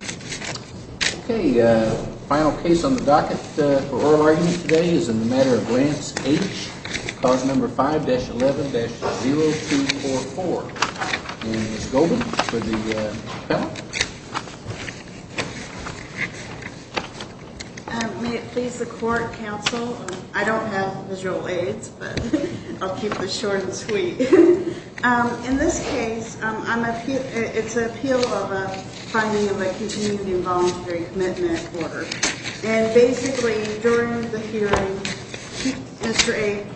Okay, final case on the docket for oral argument today is in the Matter of Lance H, cause number 5-11-0244. And Ms. Goldman for the panel. May it please the court, counsel, I don't have visual aids, but I'll keep it short and sweet. In this case, it's an appeal of a finding of a continuing voluntary commitment order. And basically, during the hearing, Mr. H,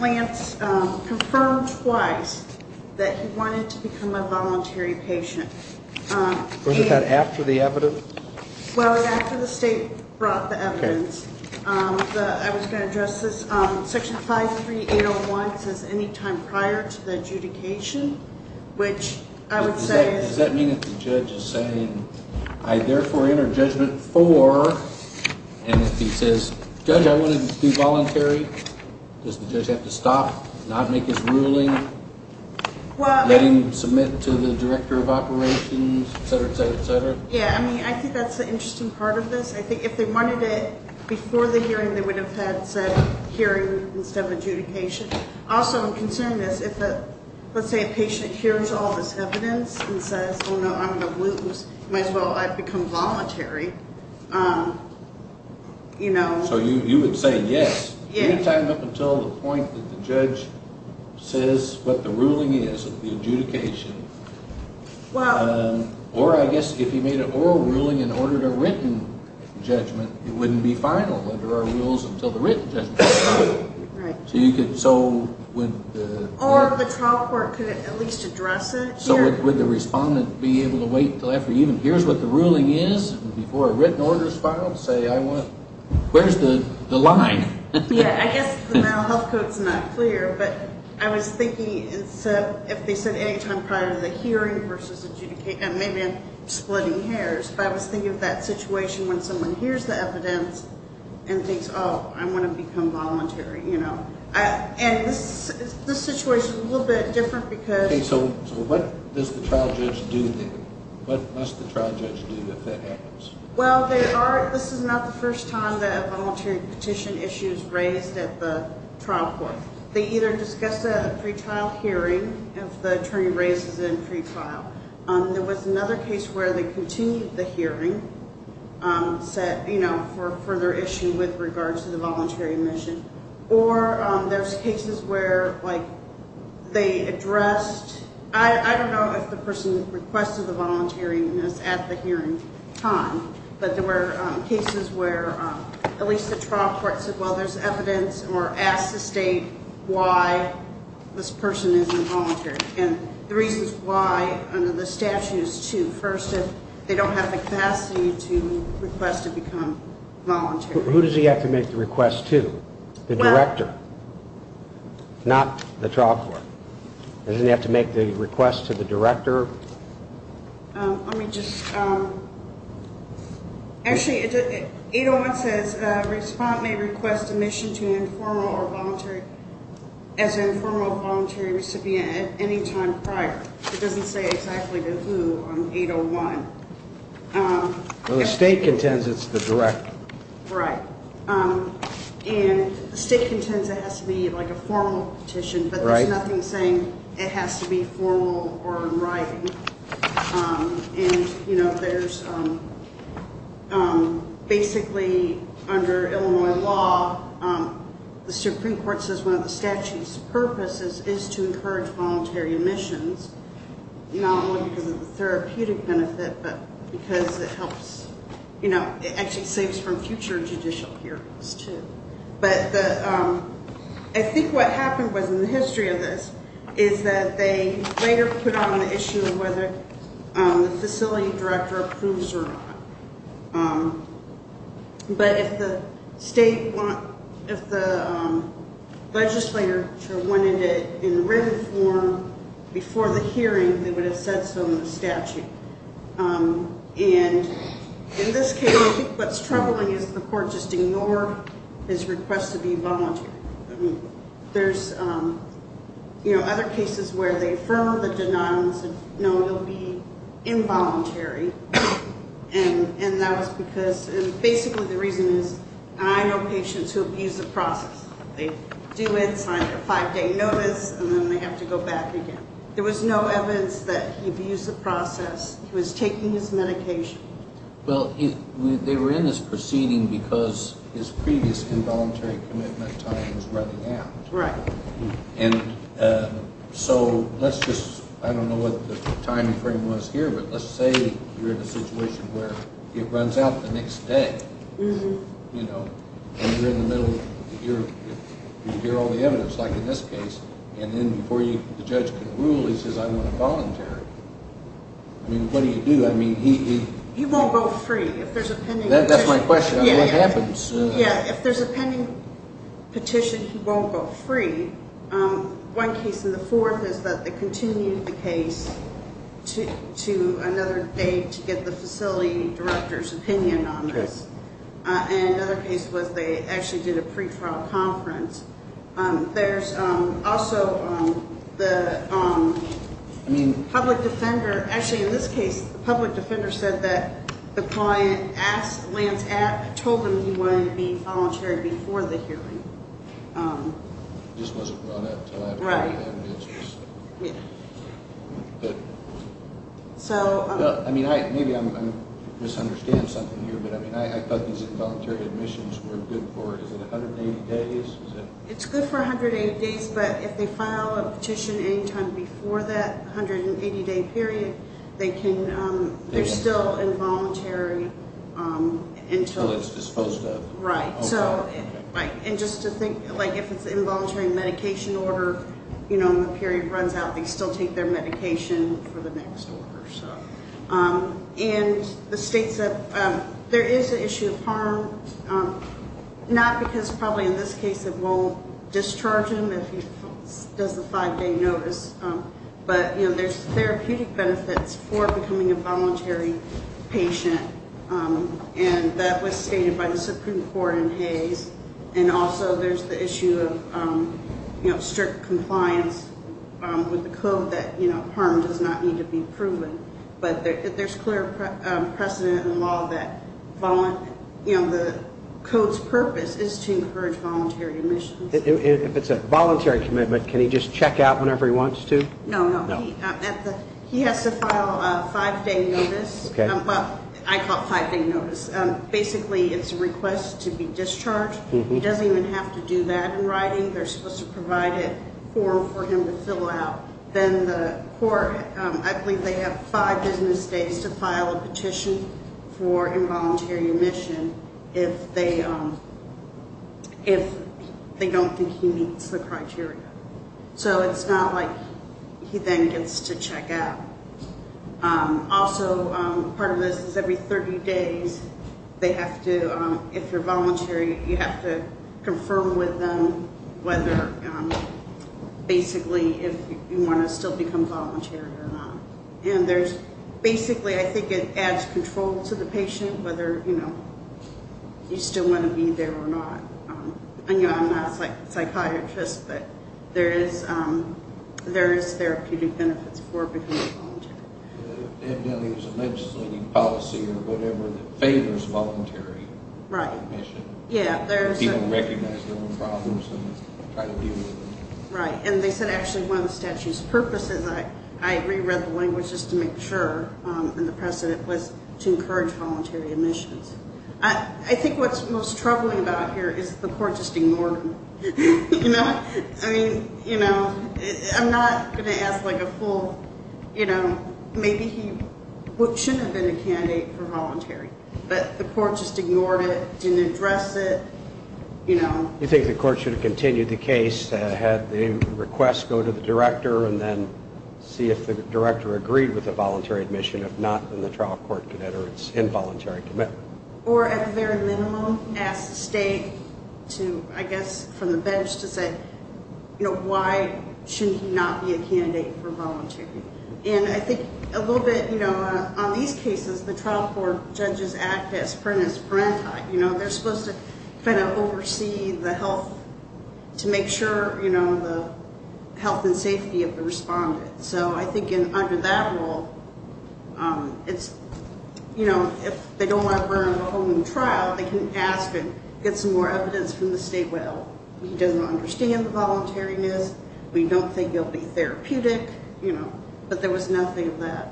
Lance confirmed twice that he wanted to become a voluntary patient. Was it that after the evidence? Well, after the state brought the evidence. I was going to address this. Section 5-3-801 says any time prior to the adjudication, which I would say is... Does that mean if the judge is saying, I therefore enter judgment for, and if he says, judge, I want to do voluntary, does the judge have to stop, not make his ruling, let him submit to the director of operations, etc., etc., etc.? Yeah, I mean, I think that's the interesting part of this. I think if they wanted it before the hearing, they would have had said hearing instead of adjudication. Also, I'm concerned that if, let's say, a patient hears all this evidence and says, oh no, I'm going to lose, might as well, I become voluntary, you know. So you would say yes, any time up until the point that the judge says what the ruling is of the adjudication. Well... Or I guess if he made an oral ruling and ordered a written judgment, it wouldn't be final under our rules until the written judgment. Right. So you could, so... Or the trial court could at least address it. So would the respondent be able to wait until after he even hears what the ruling is before a written order is filed to say, I want, where's the line? Yeah, I guess the mental health code's not clear, but I was thinking if they said any time prior to the hearing versus adjudication, maybe I'm splitting hairs, but I was thinking of that situation when someone hears the evidence and thinks, oh, I want to become voluntary, you know. And this situation's a little bit different because... Okay, so what does the trial judge do then? What must the trial judge do if that happens? Well, they are, this is not the first time that a voluntary petition issue is raised at the trial court. They either discuss a pretrial hearing if the attorney raises it in pretrial. There was another case where they continued the hearing, said, you know, for further issue with regards to the voluntary admission. Or there's cases where, like, they addressed, I don't know if the person that requested the voluntary is at the hearing time, but there were cases where at least the trial court said, well, there's evidence, or asked the state why this person isn't voluntary. And the reason why under the statute is to, first, if they don't have the capacity to request to become voluntary. Who does he have to make the request to? The director. Not the trial court. Doesn't he have to make the request to the director? Let me just... Actually, 801 says respondent may request admission to informal or voluntary, as informal voluntary recipient at any time prior. It doesn't say exactly to who on 801. Well, the state contends it's the director. Right. And the state contends it has to be, like, a formal petition, but there's nothing saying it has to be formal or in writing. And, you know, there's basically under Illinois law, the Supreme Court says one of the statute's purposes is to encourage voluntary admissions, not only because of the therapeutic benefit, but because it helps, you know, it actually saves from future judicial hearings, too. But I think what happened was, in the history of this, is that they later put on the issue of whether the facility director approves or not. But if the state, if the legislature wanted it in written form before the hearing, they would have said so in the statute. And in this case, I think what's troubling is the court just ignored his request to be voluntary. I mean, there's, you know, other cases where they affirmed the denial and said, no, you'll be involuntary. And that was because, and basically the reason is, I know patients who abuse the process. They do it, sign a five-day notice, and then they have to go back again. There was no evidence that he abused the process. He was taking his medication. Well, they were in this proceeding because his previous involuntary commitment time was running out. Right. And so let's just, I don't know what the time frame was here, but let's say you're in a situation where it runs out the next day, you know, and you're in the middle of, you hear all the evidence, like in this case, and then before the judge can rule, he says, I want to voluntary. I mean, what do you do? I mean, he won't go free if there's a pending petition. That's my question on what happens. Yeah, if there's a pending petition, he won't go free. One case in the fourth is that they continued the case to another day to get the facility director's opinion on this. And another case was they actually did a pretrial conference. There's also the public defender, actually in this case, the public defender said that the client told him he wanted to be voluntary before the hearing. It just wasn't brought up until after they had the answers. Right. I mean, maybe I'm misunderstanding something here, but I thought these involuntary admissions were good for, is it 180 days? It's good for 180 days, but if they file a petition any time before that 180-day period, they're still involuntary until it's disposed of. Right. And just to think, like if it's involuntary medication order and the period runs out, they still take their medication for the next order. And the state said there is an issue of harm, not because probably in this case it won't discharge him if he does the five-day notice, but there's therapeutic benefits for becoming a voluntary patient, and that was stated by the Supreme Court in Hayes. And also there's the issue of strict compliance with the code that harm does not need to be proven. But there's clear precedent in the law that the code's purpose is to encourage voluntary admissions. If it's a voluntary commitment, can he just check out whenever he wants to? No, no. He has to file a five-day notice. I call it five-day notice. Basically it's a request to be discharged. He doesn't even have to do that in writing. They're supposed to provide a form for him to fill out. Then the court, I believe they have five business days to file a petition for involuntary admission if they don't think he meets the criteria. So it's not like he then gets to check out. Also part of this is every 30 days they have to, if you're voluntary, you have to confirm with them whether basically if you want to still become voluntary or not. Basically I think it adds control to the patient whether you still want to be there or not. I'm not a psychiatrist, but there is therapeutic benefits for becoming voluntary. It really is a legislating policy or whatever that favors voluntary admission. People recognize their own problems and try to deal with them. Right. They said actually one of the statute's purposes, I reread the language just to make sure, and the precedent was to encourage voluntary admissions. I think what's most troubling about here is the court just ignored him. I'm not going to ask a full, maybe he shouldn't have been a candidate for voluntary, but the court just ignored it, didn't address it. You think the court should have continued the case, had the request go to the director, and then see if the director agreed with the voluntary admission. If not, then the trial court could enter its involuntary commitment. Or at the very minimum ask the state to, I guess, from the bench to say, why should he not be a candidate for voluntary? And I think a little bit on these cases, the trial court judges act as parentis parenti. They're supposed to kind of oversee the health to make sure the health and safety of the respondent. So I think under that rule, if they don't want to burn the whole new trial, they can ask and get some more evidence from the state, well, he doesn't understand the voluntariness, we don't think he'll be therapeutic, but there was nothing of that.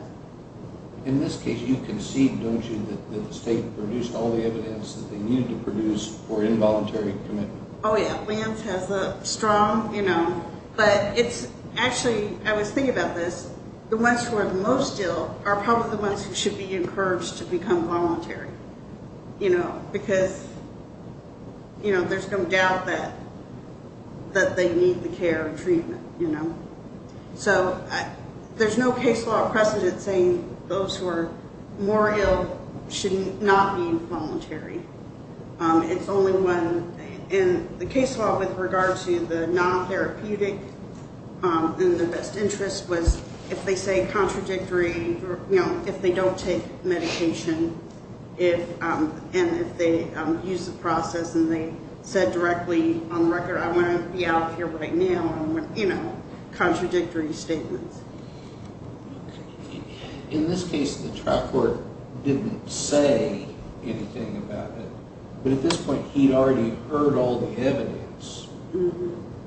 In this case, you concede, don't you, that the state produced all the evidence that they needed to produce for involuntary commitment? Oh, yeah. Williams has a strong, you know, but it's actually, I was thinking about this, the ones who are the most ill are probably the ones who should be encouraged to become voluntary, you know, because, you know, there's no doubt that they need the care and treatment, you know. So there's no case law precedent saying those who are more ill should not be involuntary. It's only when, and the case law with regard to the non-therapeutic and the best interest was, if they say contradictory, you know, if they don't take medication, and if they use the process and they said directly on the record, I want to be out of here right now, you know, contradictory statements. In this case, the trial court didn't say anything about it, but at this point he'd already heard all the evidence,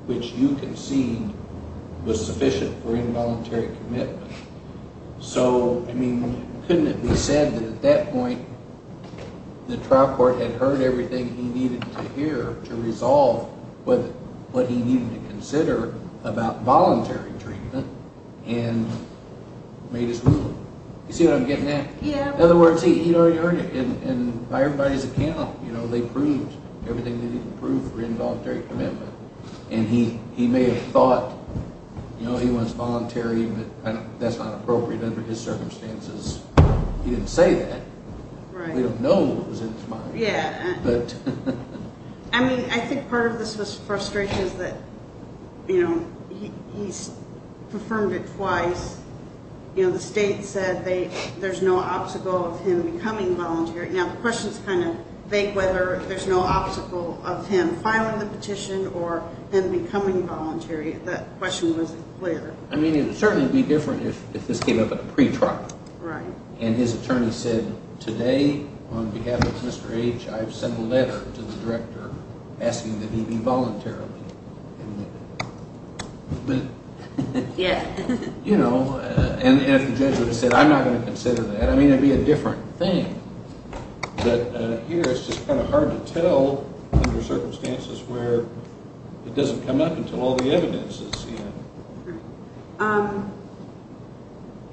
which you concede was sufficient for involuntary commitment. So, I mean, couldn't it be said that at that point the trial court had heard everything he needed to hear to resolve what he needed to consider about voluntary treatment and made his ruling? You see what I'm getting at? Yeah. In other words, he'd already heard it, and by everybody's account, you know, they proved everything they needed to prove for involuntary commitment, and he may have thought, you know, he was voluntary, but that's not appropriate under his circumstances. He didn't say that. Right. We don't know what was in his mind. Yeah. I mean, I think part of this frustration is that, you know, he's confirmed it twice. You know, the state said there's no obstacle of him becoming voluntary. Now, the question is kind of vague whether there's no obstacle of him filing the petition or him becoming voluntary. That question wasn't clear. I mean, it would certainly be different if this came up at a pre-trial. Right. And his attorney said, today, on behalf of Mr. H., I've sent a letter to the director asking that he be voluntary. Yeah. You know, and if the judge would have said, I'm not going to consider that, I mean, it would be a different thing. But here it's just kind of hard to tell under circumstances where it doesn't come up until all the evidence is seen. Right.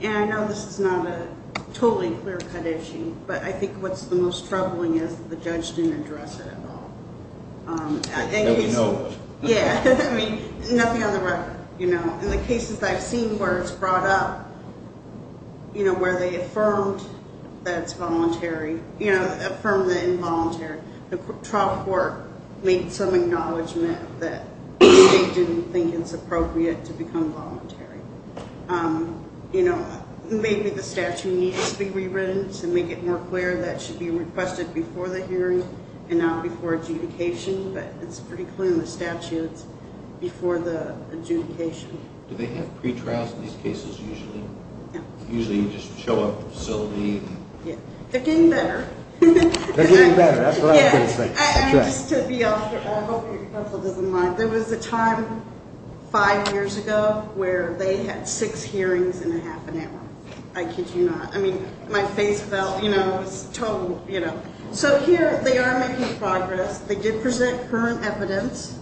And I know this is not a totally clear-cut issue, but I think what's the most troubling is the judge didn't address it at all. That we know. Yeah. I mean, nothing on the record. You know, in the cases I've seen where it's brought up, you know, where they affirmed that it's voluntary, you know, affirmed that involuntary, where the trial court made some acknowledgment that they didn't think it's appropriate to become voluntary. You know, maybe the statute needs to be rewritten to make it more clear that it should be requested before the hearing and not before adjudication, but it's pretty clear in the statute it's before the adjudication. Do they have pre-trials in these cases usually? Yeah. Usually you just show up at the facility? Yeah. They're getting better. They're getting better. That's what I was going to say. I hope your counsel doesn't mind. There was a time five years ago where they had six hearings in a half an hour. I kid you not. I mean, my face felt, you know, total, you know. So here they are making progress. They did present current evidence.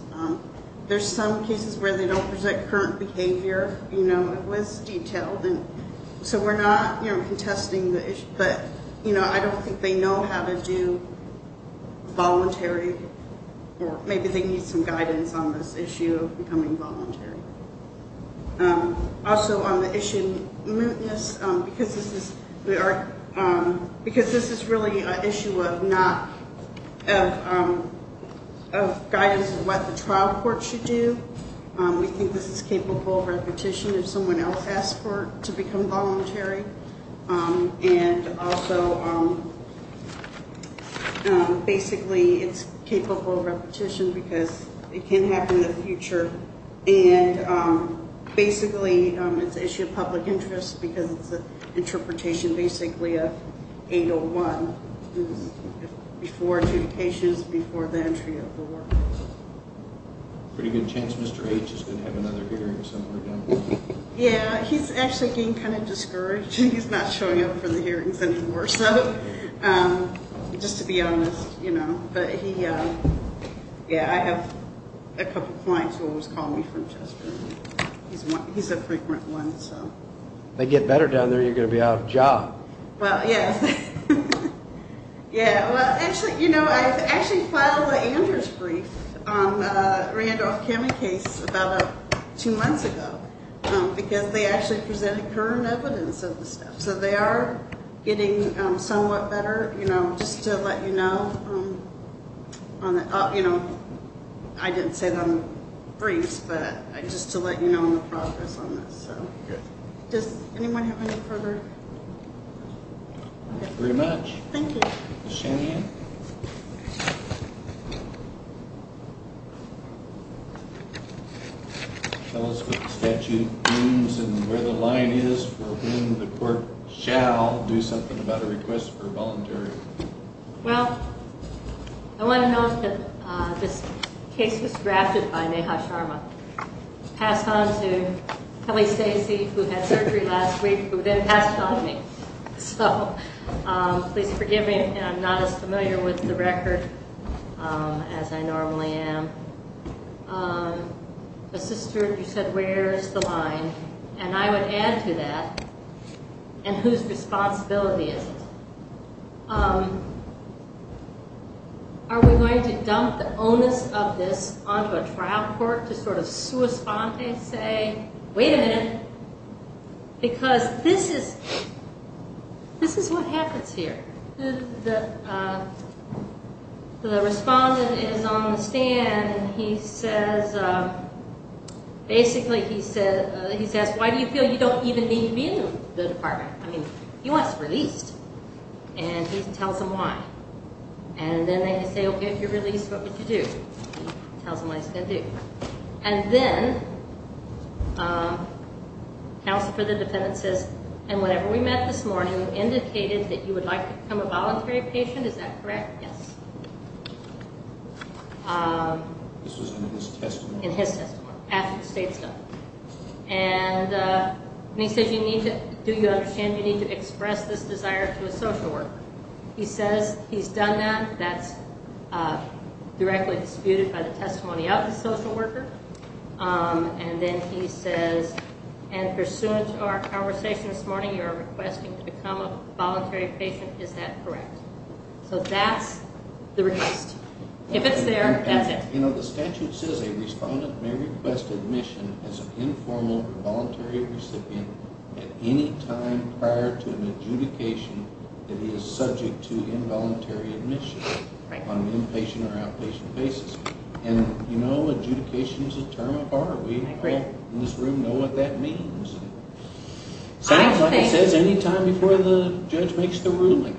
There's some cases where they don't present current behavior. So we're not, you know, contesting the issue. But, you know, I don't think they know how to do voluntary or maybe they need some guidance on this issue of becoming voluntary. Also on the issue of mootness, because this is really an issue of guidance of what the trial court should do, we think this is capable of repetition if someone else asks for it to become voluntary. And also basically it's capable of repetition because it can happen in the future. And basically it's an issue of public interest because it's an interpretation, basically, of 801 before adjudications, before the entry of the work. Pretty good chance Mr. H is going to have another hearing somewhere down the road. Yeah, he's actually being kind of discouraged. He's not showing up for the hearings anymore. Just to be honest, you know. Yeah, I have a couple clients who always call me from Chester. He's a frequent one. If they get better down there, you're going to be out of a job. Well, yes. Yeah, well, actually, you know, I actually filed an Andrews brief on a Randolph County case about two months ago because they actually presented current evidence of the stuff. So they are getting somewhat better, you know, just to let you know. You know, I didn't say it on the briefs, but just to let you know on the progress on this. Does anyone have any further? Thank you very much. Thank you. Ms. Shanian. Tell us what the statute means and where the line is for when the court shall do something about a request for voluntary. Well, I want to note that this case was drafted by Neha Sharma. Passed on to Kelly Stacey, who had surgery last week, who then passed it on to me. So, please forgive me. I'm not as familiar with the record as I normally am. But, sister, you said where's the line? And I would add to that, and whose responsibility is it? Are we going to dump the onus of this onto a trial court to sort of sua sponte, say, wait a minute, because this is what happens here. The respondent is on the stand. He says, basically, he says, why do you feel you don't even need me in the department? I mean, he wants released. And he tells him why. And then they say, okay, if you're released, what would you do? He tells him what he's going to do. And then, counsel for the defendant says, and whenever we met this morning, you indicated that you would like to become a voluntary patient. Is that correct? Yes. This was in his testimony. In his testimony, after the state's done. And he says, do you understand you need to express this desire to a social worker? He says he's done that. That's directly disputed by the testimony of the social worker. And then he says, and pursuant to our conversation this morning, you're requesting to become a voluntary patient. Is that correct? So that's the request. If it's there, that's it. You know, the statute says a respondent may request admission as an informal or voluntary recipient at any time prior to an adjudication that he is subject to involuntary admission on an inpatient or outpatient basis. And, you know, adjudication is a term of art. We in this room know what that means. Sounds like it says any time before the judge makes the ruling.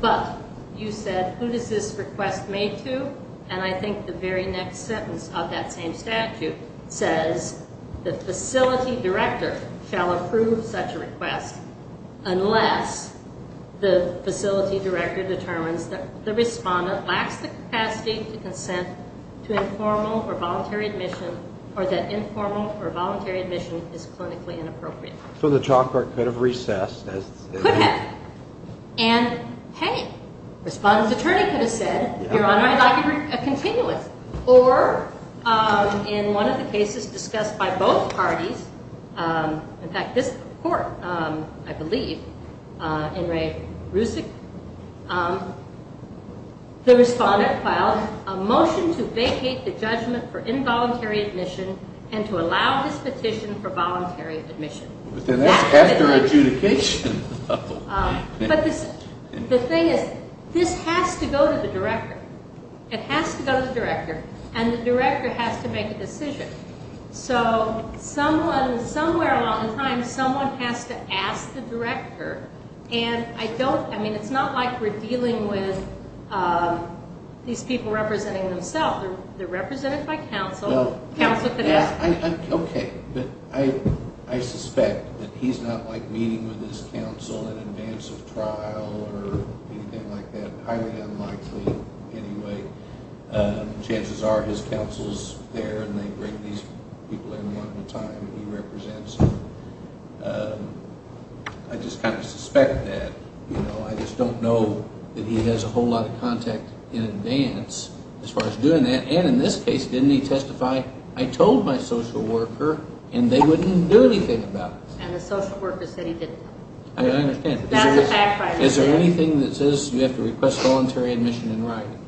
But you said, who does this request make to? And I think the very next sentence of that same statute says the facility director shall approve such a request unless the facility director determines that the respondent lacks the capacity to consent to informal or voluntary admission or that informal or voluntary admission is clinically inappropriate. So the chalkboard could have recessed. Could have. And, hey, respondent's attorney could have said, Your Honor, I'd like a continuance. Or, in one of the cases discussed by both parties, in fact, this court, I believe, the respondent filed a motion to vacate the judgment for involuntary admission and to allow this petition for voluntary admission. But then that's after adjudication. But the thing is, this has to go to the director. It has to go to the director. And the director has to make a decision. So somewhere along the line, someone has to ask the director. And I mean, it's not like we're dealing with these people representing themselves. They're represented by counsel. Counsel could ask. Okay. But I suspect that he's not, like, meeting with his counsel in advance of trial or anything like that. Highly unlikely, anyway. Chances are his counsel's there, and they bring these people in one at a time and he represents them. I just kind of suspect that. I just don't know that he has a whole lot of contact in advance as far as doing that. And in this case, didn't he testify? I told my social worker, and they wouldn't do anything about it. And the social worker said he didn't. I understand. Is there anything that says you have to request voluntary admission in writing?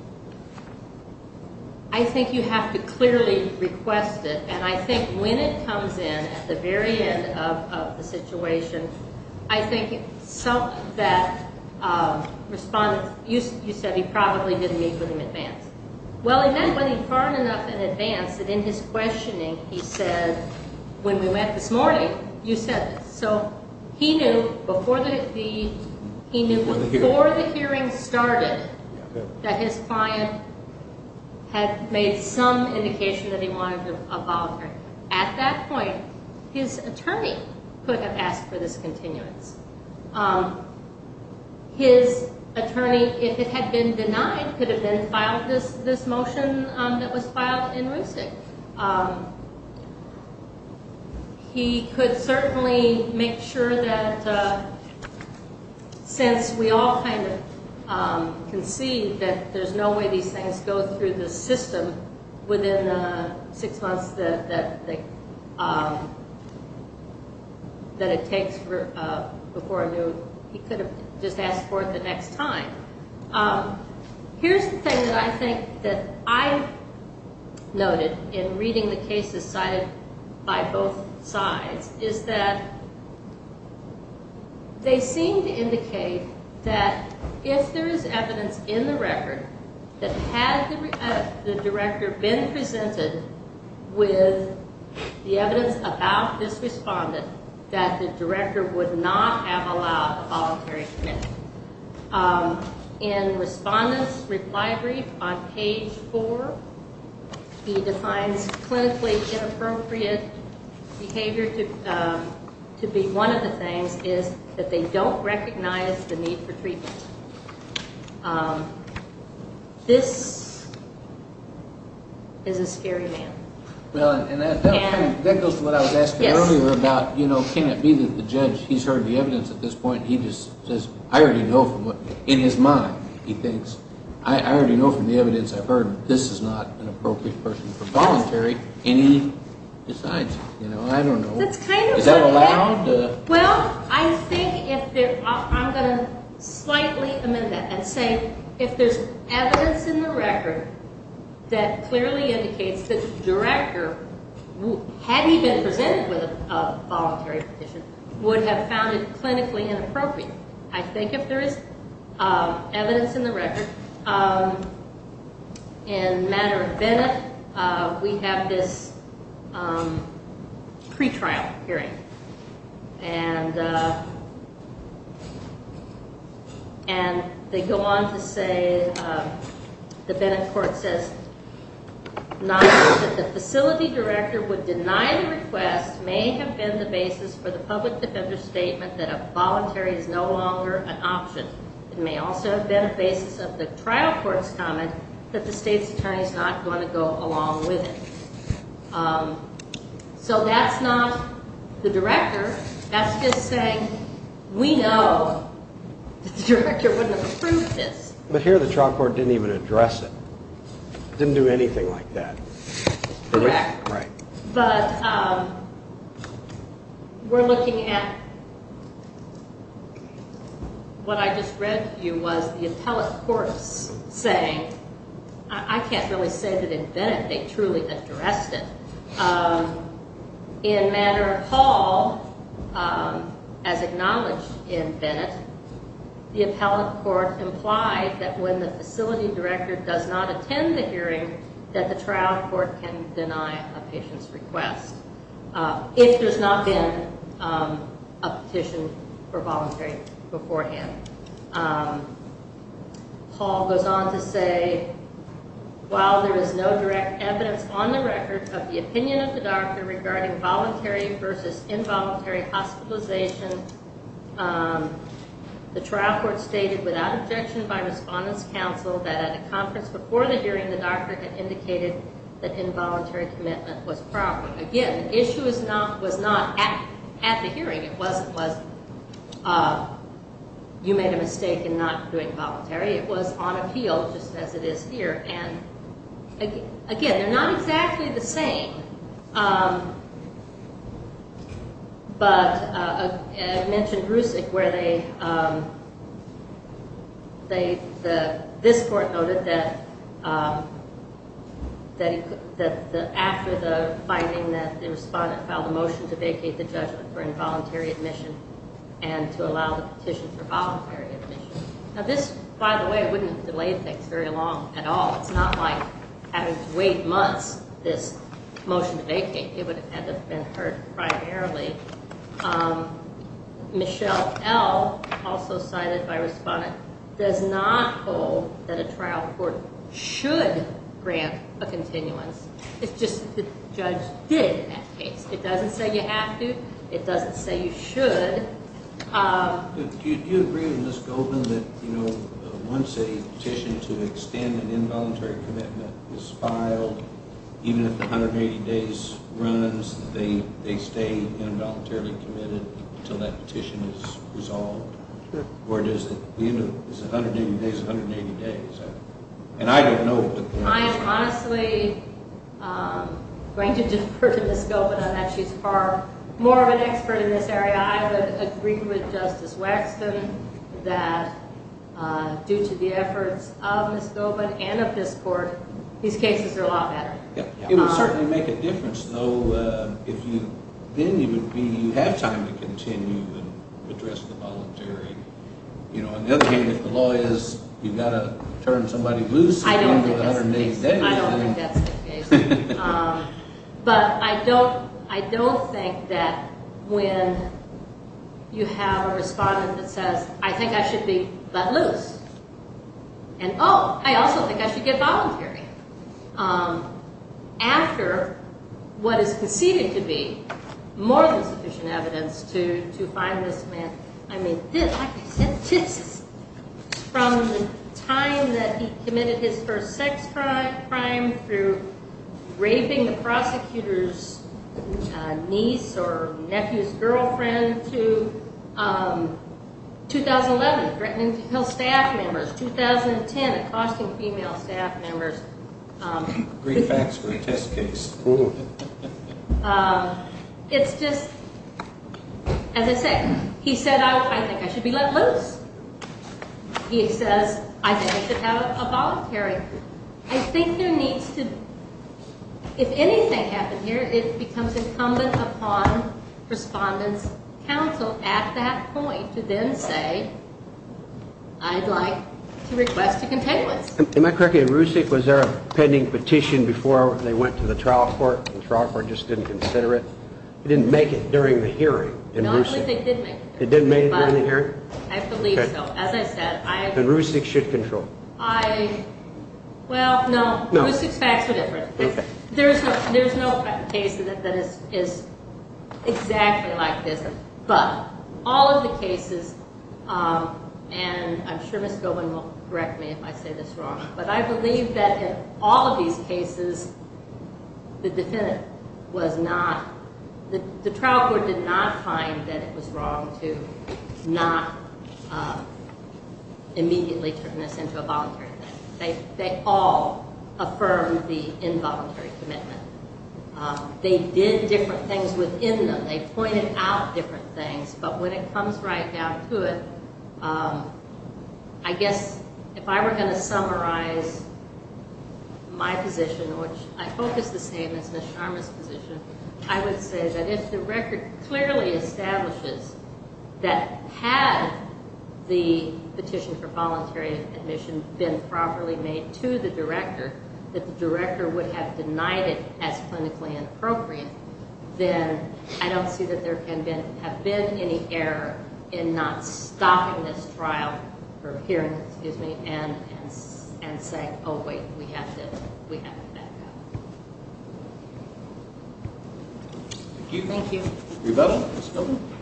I think you have to clearly request it. And I think when it comes in at the very end of the situation, I think some of that response, you said he probably didn't meet with him in advance. Well, he met with him far enough in advance that in his questioning he said, when we met this morning, you said this. So he knew before the hearing started that his client had made some indication that he wanted a voluntary. At that point, his attorney could have asked for this continuance. His attorney, if it had been denied, could have then filed this motion that was filed in RUCIC. He could certainly make sure that since we all kind of can see that there's no way these things go through the system within the six months that it takes before a new, he could have just asked for it the next time. Here's the thing that I think that I noted in reading the cases cited by both sides, is that they seem to indicate that if there is evidence in the record that had the director been presented with the evidence about this respondent, that the director would not have allowed a voluntary commitment. In respondent's reply brief on page four, he defines clinically inappropriate behavior to be one of the things is that they don't recognize the need for treatment. This is a scary man. Well, and that goes to what I was asking earlier about, you know, can it be that the judge, he's heard the evidence at this point, he just says, I already know from what, in his mind, he thinks, I already know from the evidence I've heard that this is not an appropriate person for voluntary, and he decides, you know, I don't know. Is that allowed? Well, I think if there, I'm going to slightly amend that and say if there's evidence in the record that clearly indicates that the director, had he been presented with a voluntary petition, would have found it clinically inappropriate. I think if there is evidence in the record, in the matter of Bennett, we have this pre-trial hearing, and they go on to say, the Bennett court says, not only that the facility director would deny the request may have been the basis for the public defender's statement that a voluntary is no longer an option. It may also have been a basis of the trial court's comment that the state's attorney is not going to go along with it. So that's not the director. That's just saying, we know that the director wouldn't have approved this. But here the trial court didn't even address it. Didn't do anything like that. Correct. Right. But we're looking at what I just read to you was the appellate courts saying, I can't really say that in Bennett they truly addressed it. In matter of Hall, as acknowledged in Bennett, the appellate court implied that when the facility director does not attend the hearing, that the trial court can deny a patient's request. If there's not been a petition for voluntary beforehand. Hall goes on to say, while there is no direct evidence on the record of the opinion of the doctor regarding voluntary versus involuntary hospitalization, the trial court stated without objection by respondents' counsel that at a conference before the hearing, the doctor had indicated that involuntary commitment was a problem. Again, the issue was not at the hearing. It wasn't was you made a mistake in not doing voluntary. It was on appeal just as it is here. And, again, they're not exactly the same. But I mentioned Rusick where they, this court noted that after the finding that the respondent filed a motion to vacate the judgment for involuntary admission and to allow the petition for voluntary admission. Now, this, by the way, wouldn't have delayed things very long at all. It's not like having to wait months this motion to vacate. It would have had to have been heard primarily. Michelle L., also cited by respondent, does not hold that a trial court should grant a continuance. It's just that the judge did in that case. It doesn't say you have to. It doesn't say you should. Do you agree with Ms. Goldman that, you know, once a petition to extend an involuntary commitment is filed, even if the 180 days runs, they stay involuntarily committed until that petition is resolved? Or is it 180 days, 180 days? And I don't know. I honestly am going to defer to Ms. Goldman on that. She's far more of an expert in this area. I would agree with Justice Waxman that, due to the efforts of Ms. Goldman and of this court, these cases are a lot better. It would certainly make a difference, though, if you then you would be, you have time to continue and address the voluntary. You know, on the other hand, if the law is you've got to turn somebody loose and go 180 days. I don't think that's the case. But I don't think that when you have a respondent that says, I think I should be let loose. And, oh, I also think I should get voluntary. After what is conceded to be more than sufficient evidence to find this man. I mean, like I said, this is from the time that he committed his first sex crime through raping the prosecutor's niece or nephew's girlfriend to 2011, threatening to kill staff members. 2010, accosting female staff members. Great facts for a test case. It's just, as I said, he said, I think I should be let loose. He says, I think I should have a voluntary. I think there needs to be, if anything happened here, it becomes incumbent upon respondent's counsel at that point to then say, I'd like to request a containment. Am I correct in Roussik, was there a pending petition before they went to the trial court? The trial court just didn't consider it. It didn't make it during the hearing. No, I believe they did make it. It didn't make it during the hearing? I believe so. As I said, I. And Roussik should control. I, well, no. No. Roussik's facts are different. Okay. There's no case that is exactly like this. But all of the cases, and I'm sure Ms. Gowen will correct me if I say this wrong, but I believe that in all of these cases, the defendant was not, the trial court did not find that it was wrong to not immediately turn this into a voluntary thing. They all affirmed the involuntary commitment. They did different things within them. They pointed out different things, but when it comes right down to it, I guess if I were going to summarize my position, which I hope is the same as Ms. Sharma's position, I would say that if the record clearly establishes that had the petition for voluntary admission been properly made to the director, that the director would have denied it as clinically inappropriate, then I don't see that there can have been any error in not stopping this trial, or hearing, excuse me, and saying, oh, wait, we have to back up. Thank you. Thank you. Rebuttal, Ms. Gowen.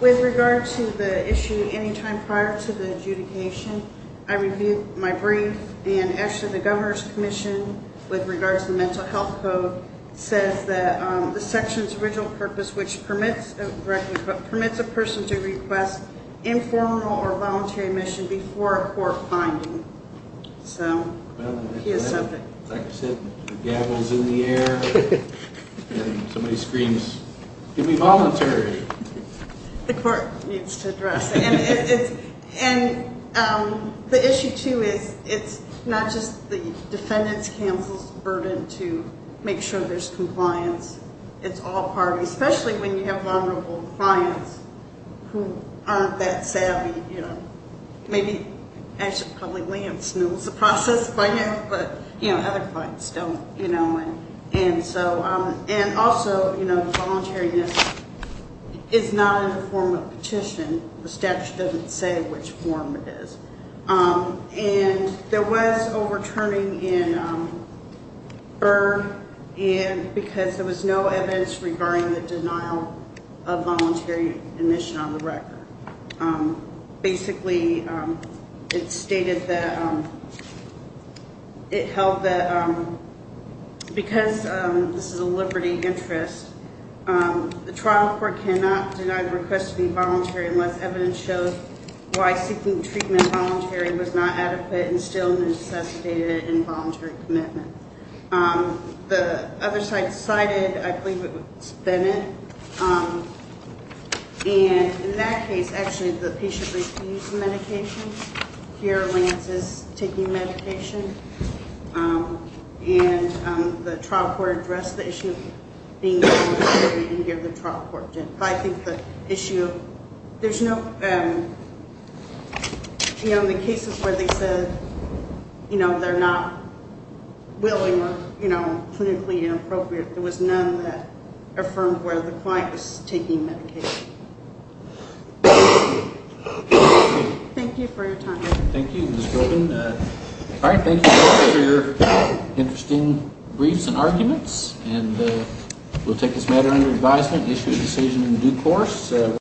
With regard to the issue, any time prior to the adjudication, I reviewed my brief, and actually the governor's commission, with regards to the mental health code, says that the section's original purpose, which permits a person to request informal or voluntary admission before a court finding. Like I said, the gavel's in the air, and somebody screams, give me voluntary. The court needs to address it. And the issue, too, is it's not just the defendant's counsel's burden to make sure there's compliance. It's all part of it, especially when you have vulnerable clients who aren't that savvy. Maybe, actually, probably Liam snools the process by now, but other clients don't. And also, voluntariness is not in the form of petition. The statute doesn't say which form it is. And there was overturning in Berg, because there was no evidence regarding the denial of voluntary admission on the record. Basically, it stated that it held that because this is a liberty interest, the trial court cannot deny the request to be voluntary unless evidence shows why seeking treatment voluntary was not adequate and still necessitated involuntary commitment. The other side cited, I believe it was Bennett. And in that case, actually, the patient refused medication. Here, Lance is taking medication. And the trial court addressed the issue of being voluntary and gave the trial court. I think the issue, there's no, you know, in the cases where they said, you know, they're not willing or, you know, clinically inappropriate, there was none that affirmed where the client was taking medication. Thank you for your time. Thank you, Ms. Golden. All right, thank you for your interesting briefs and arguments. And we'll take this matter under advisement, issue a decision in due course.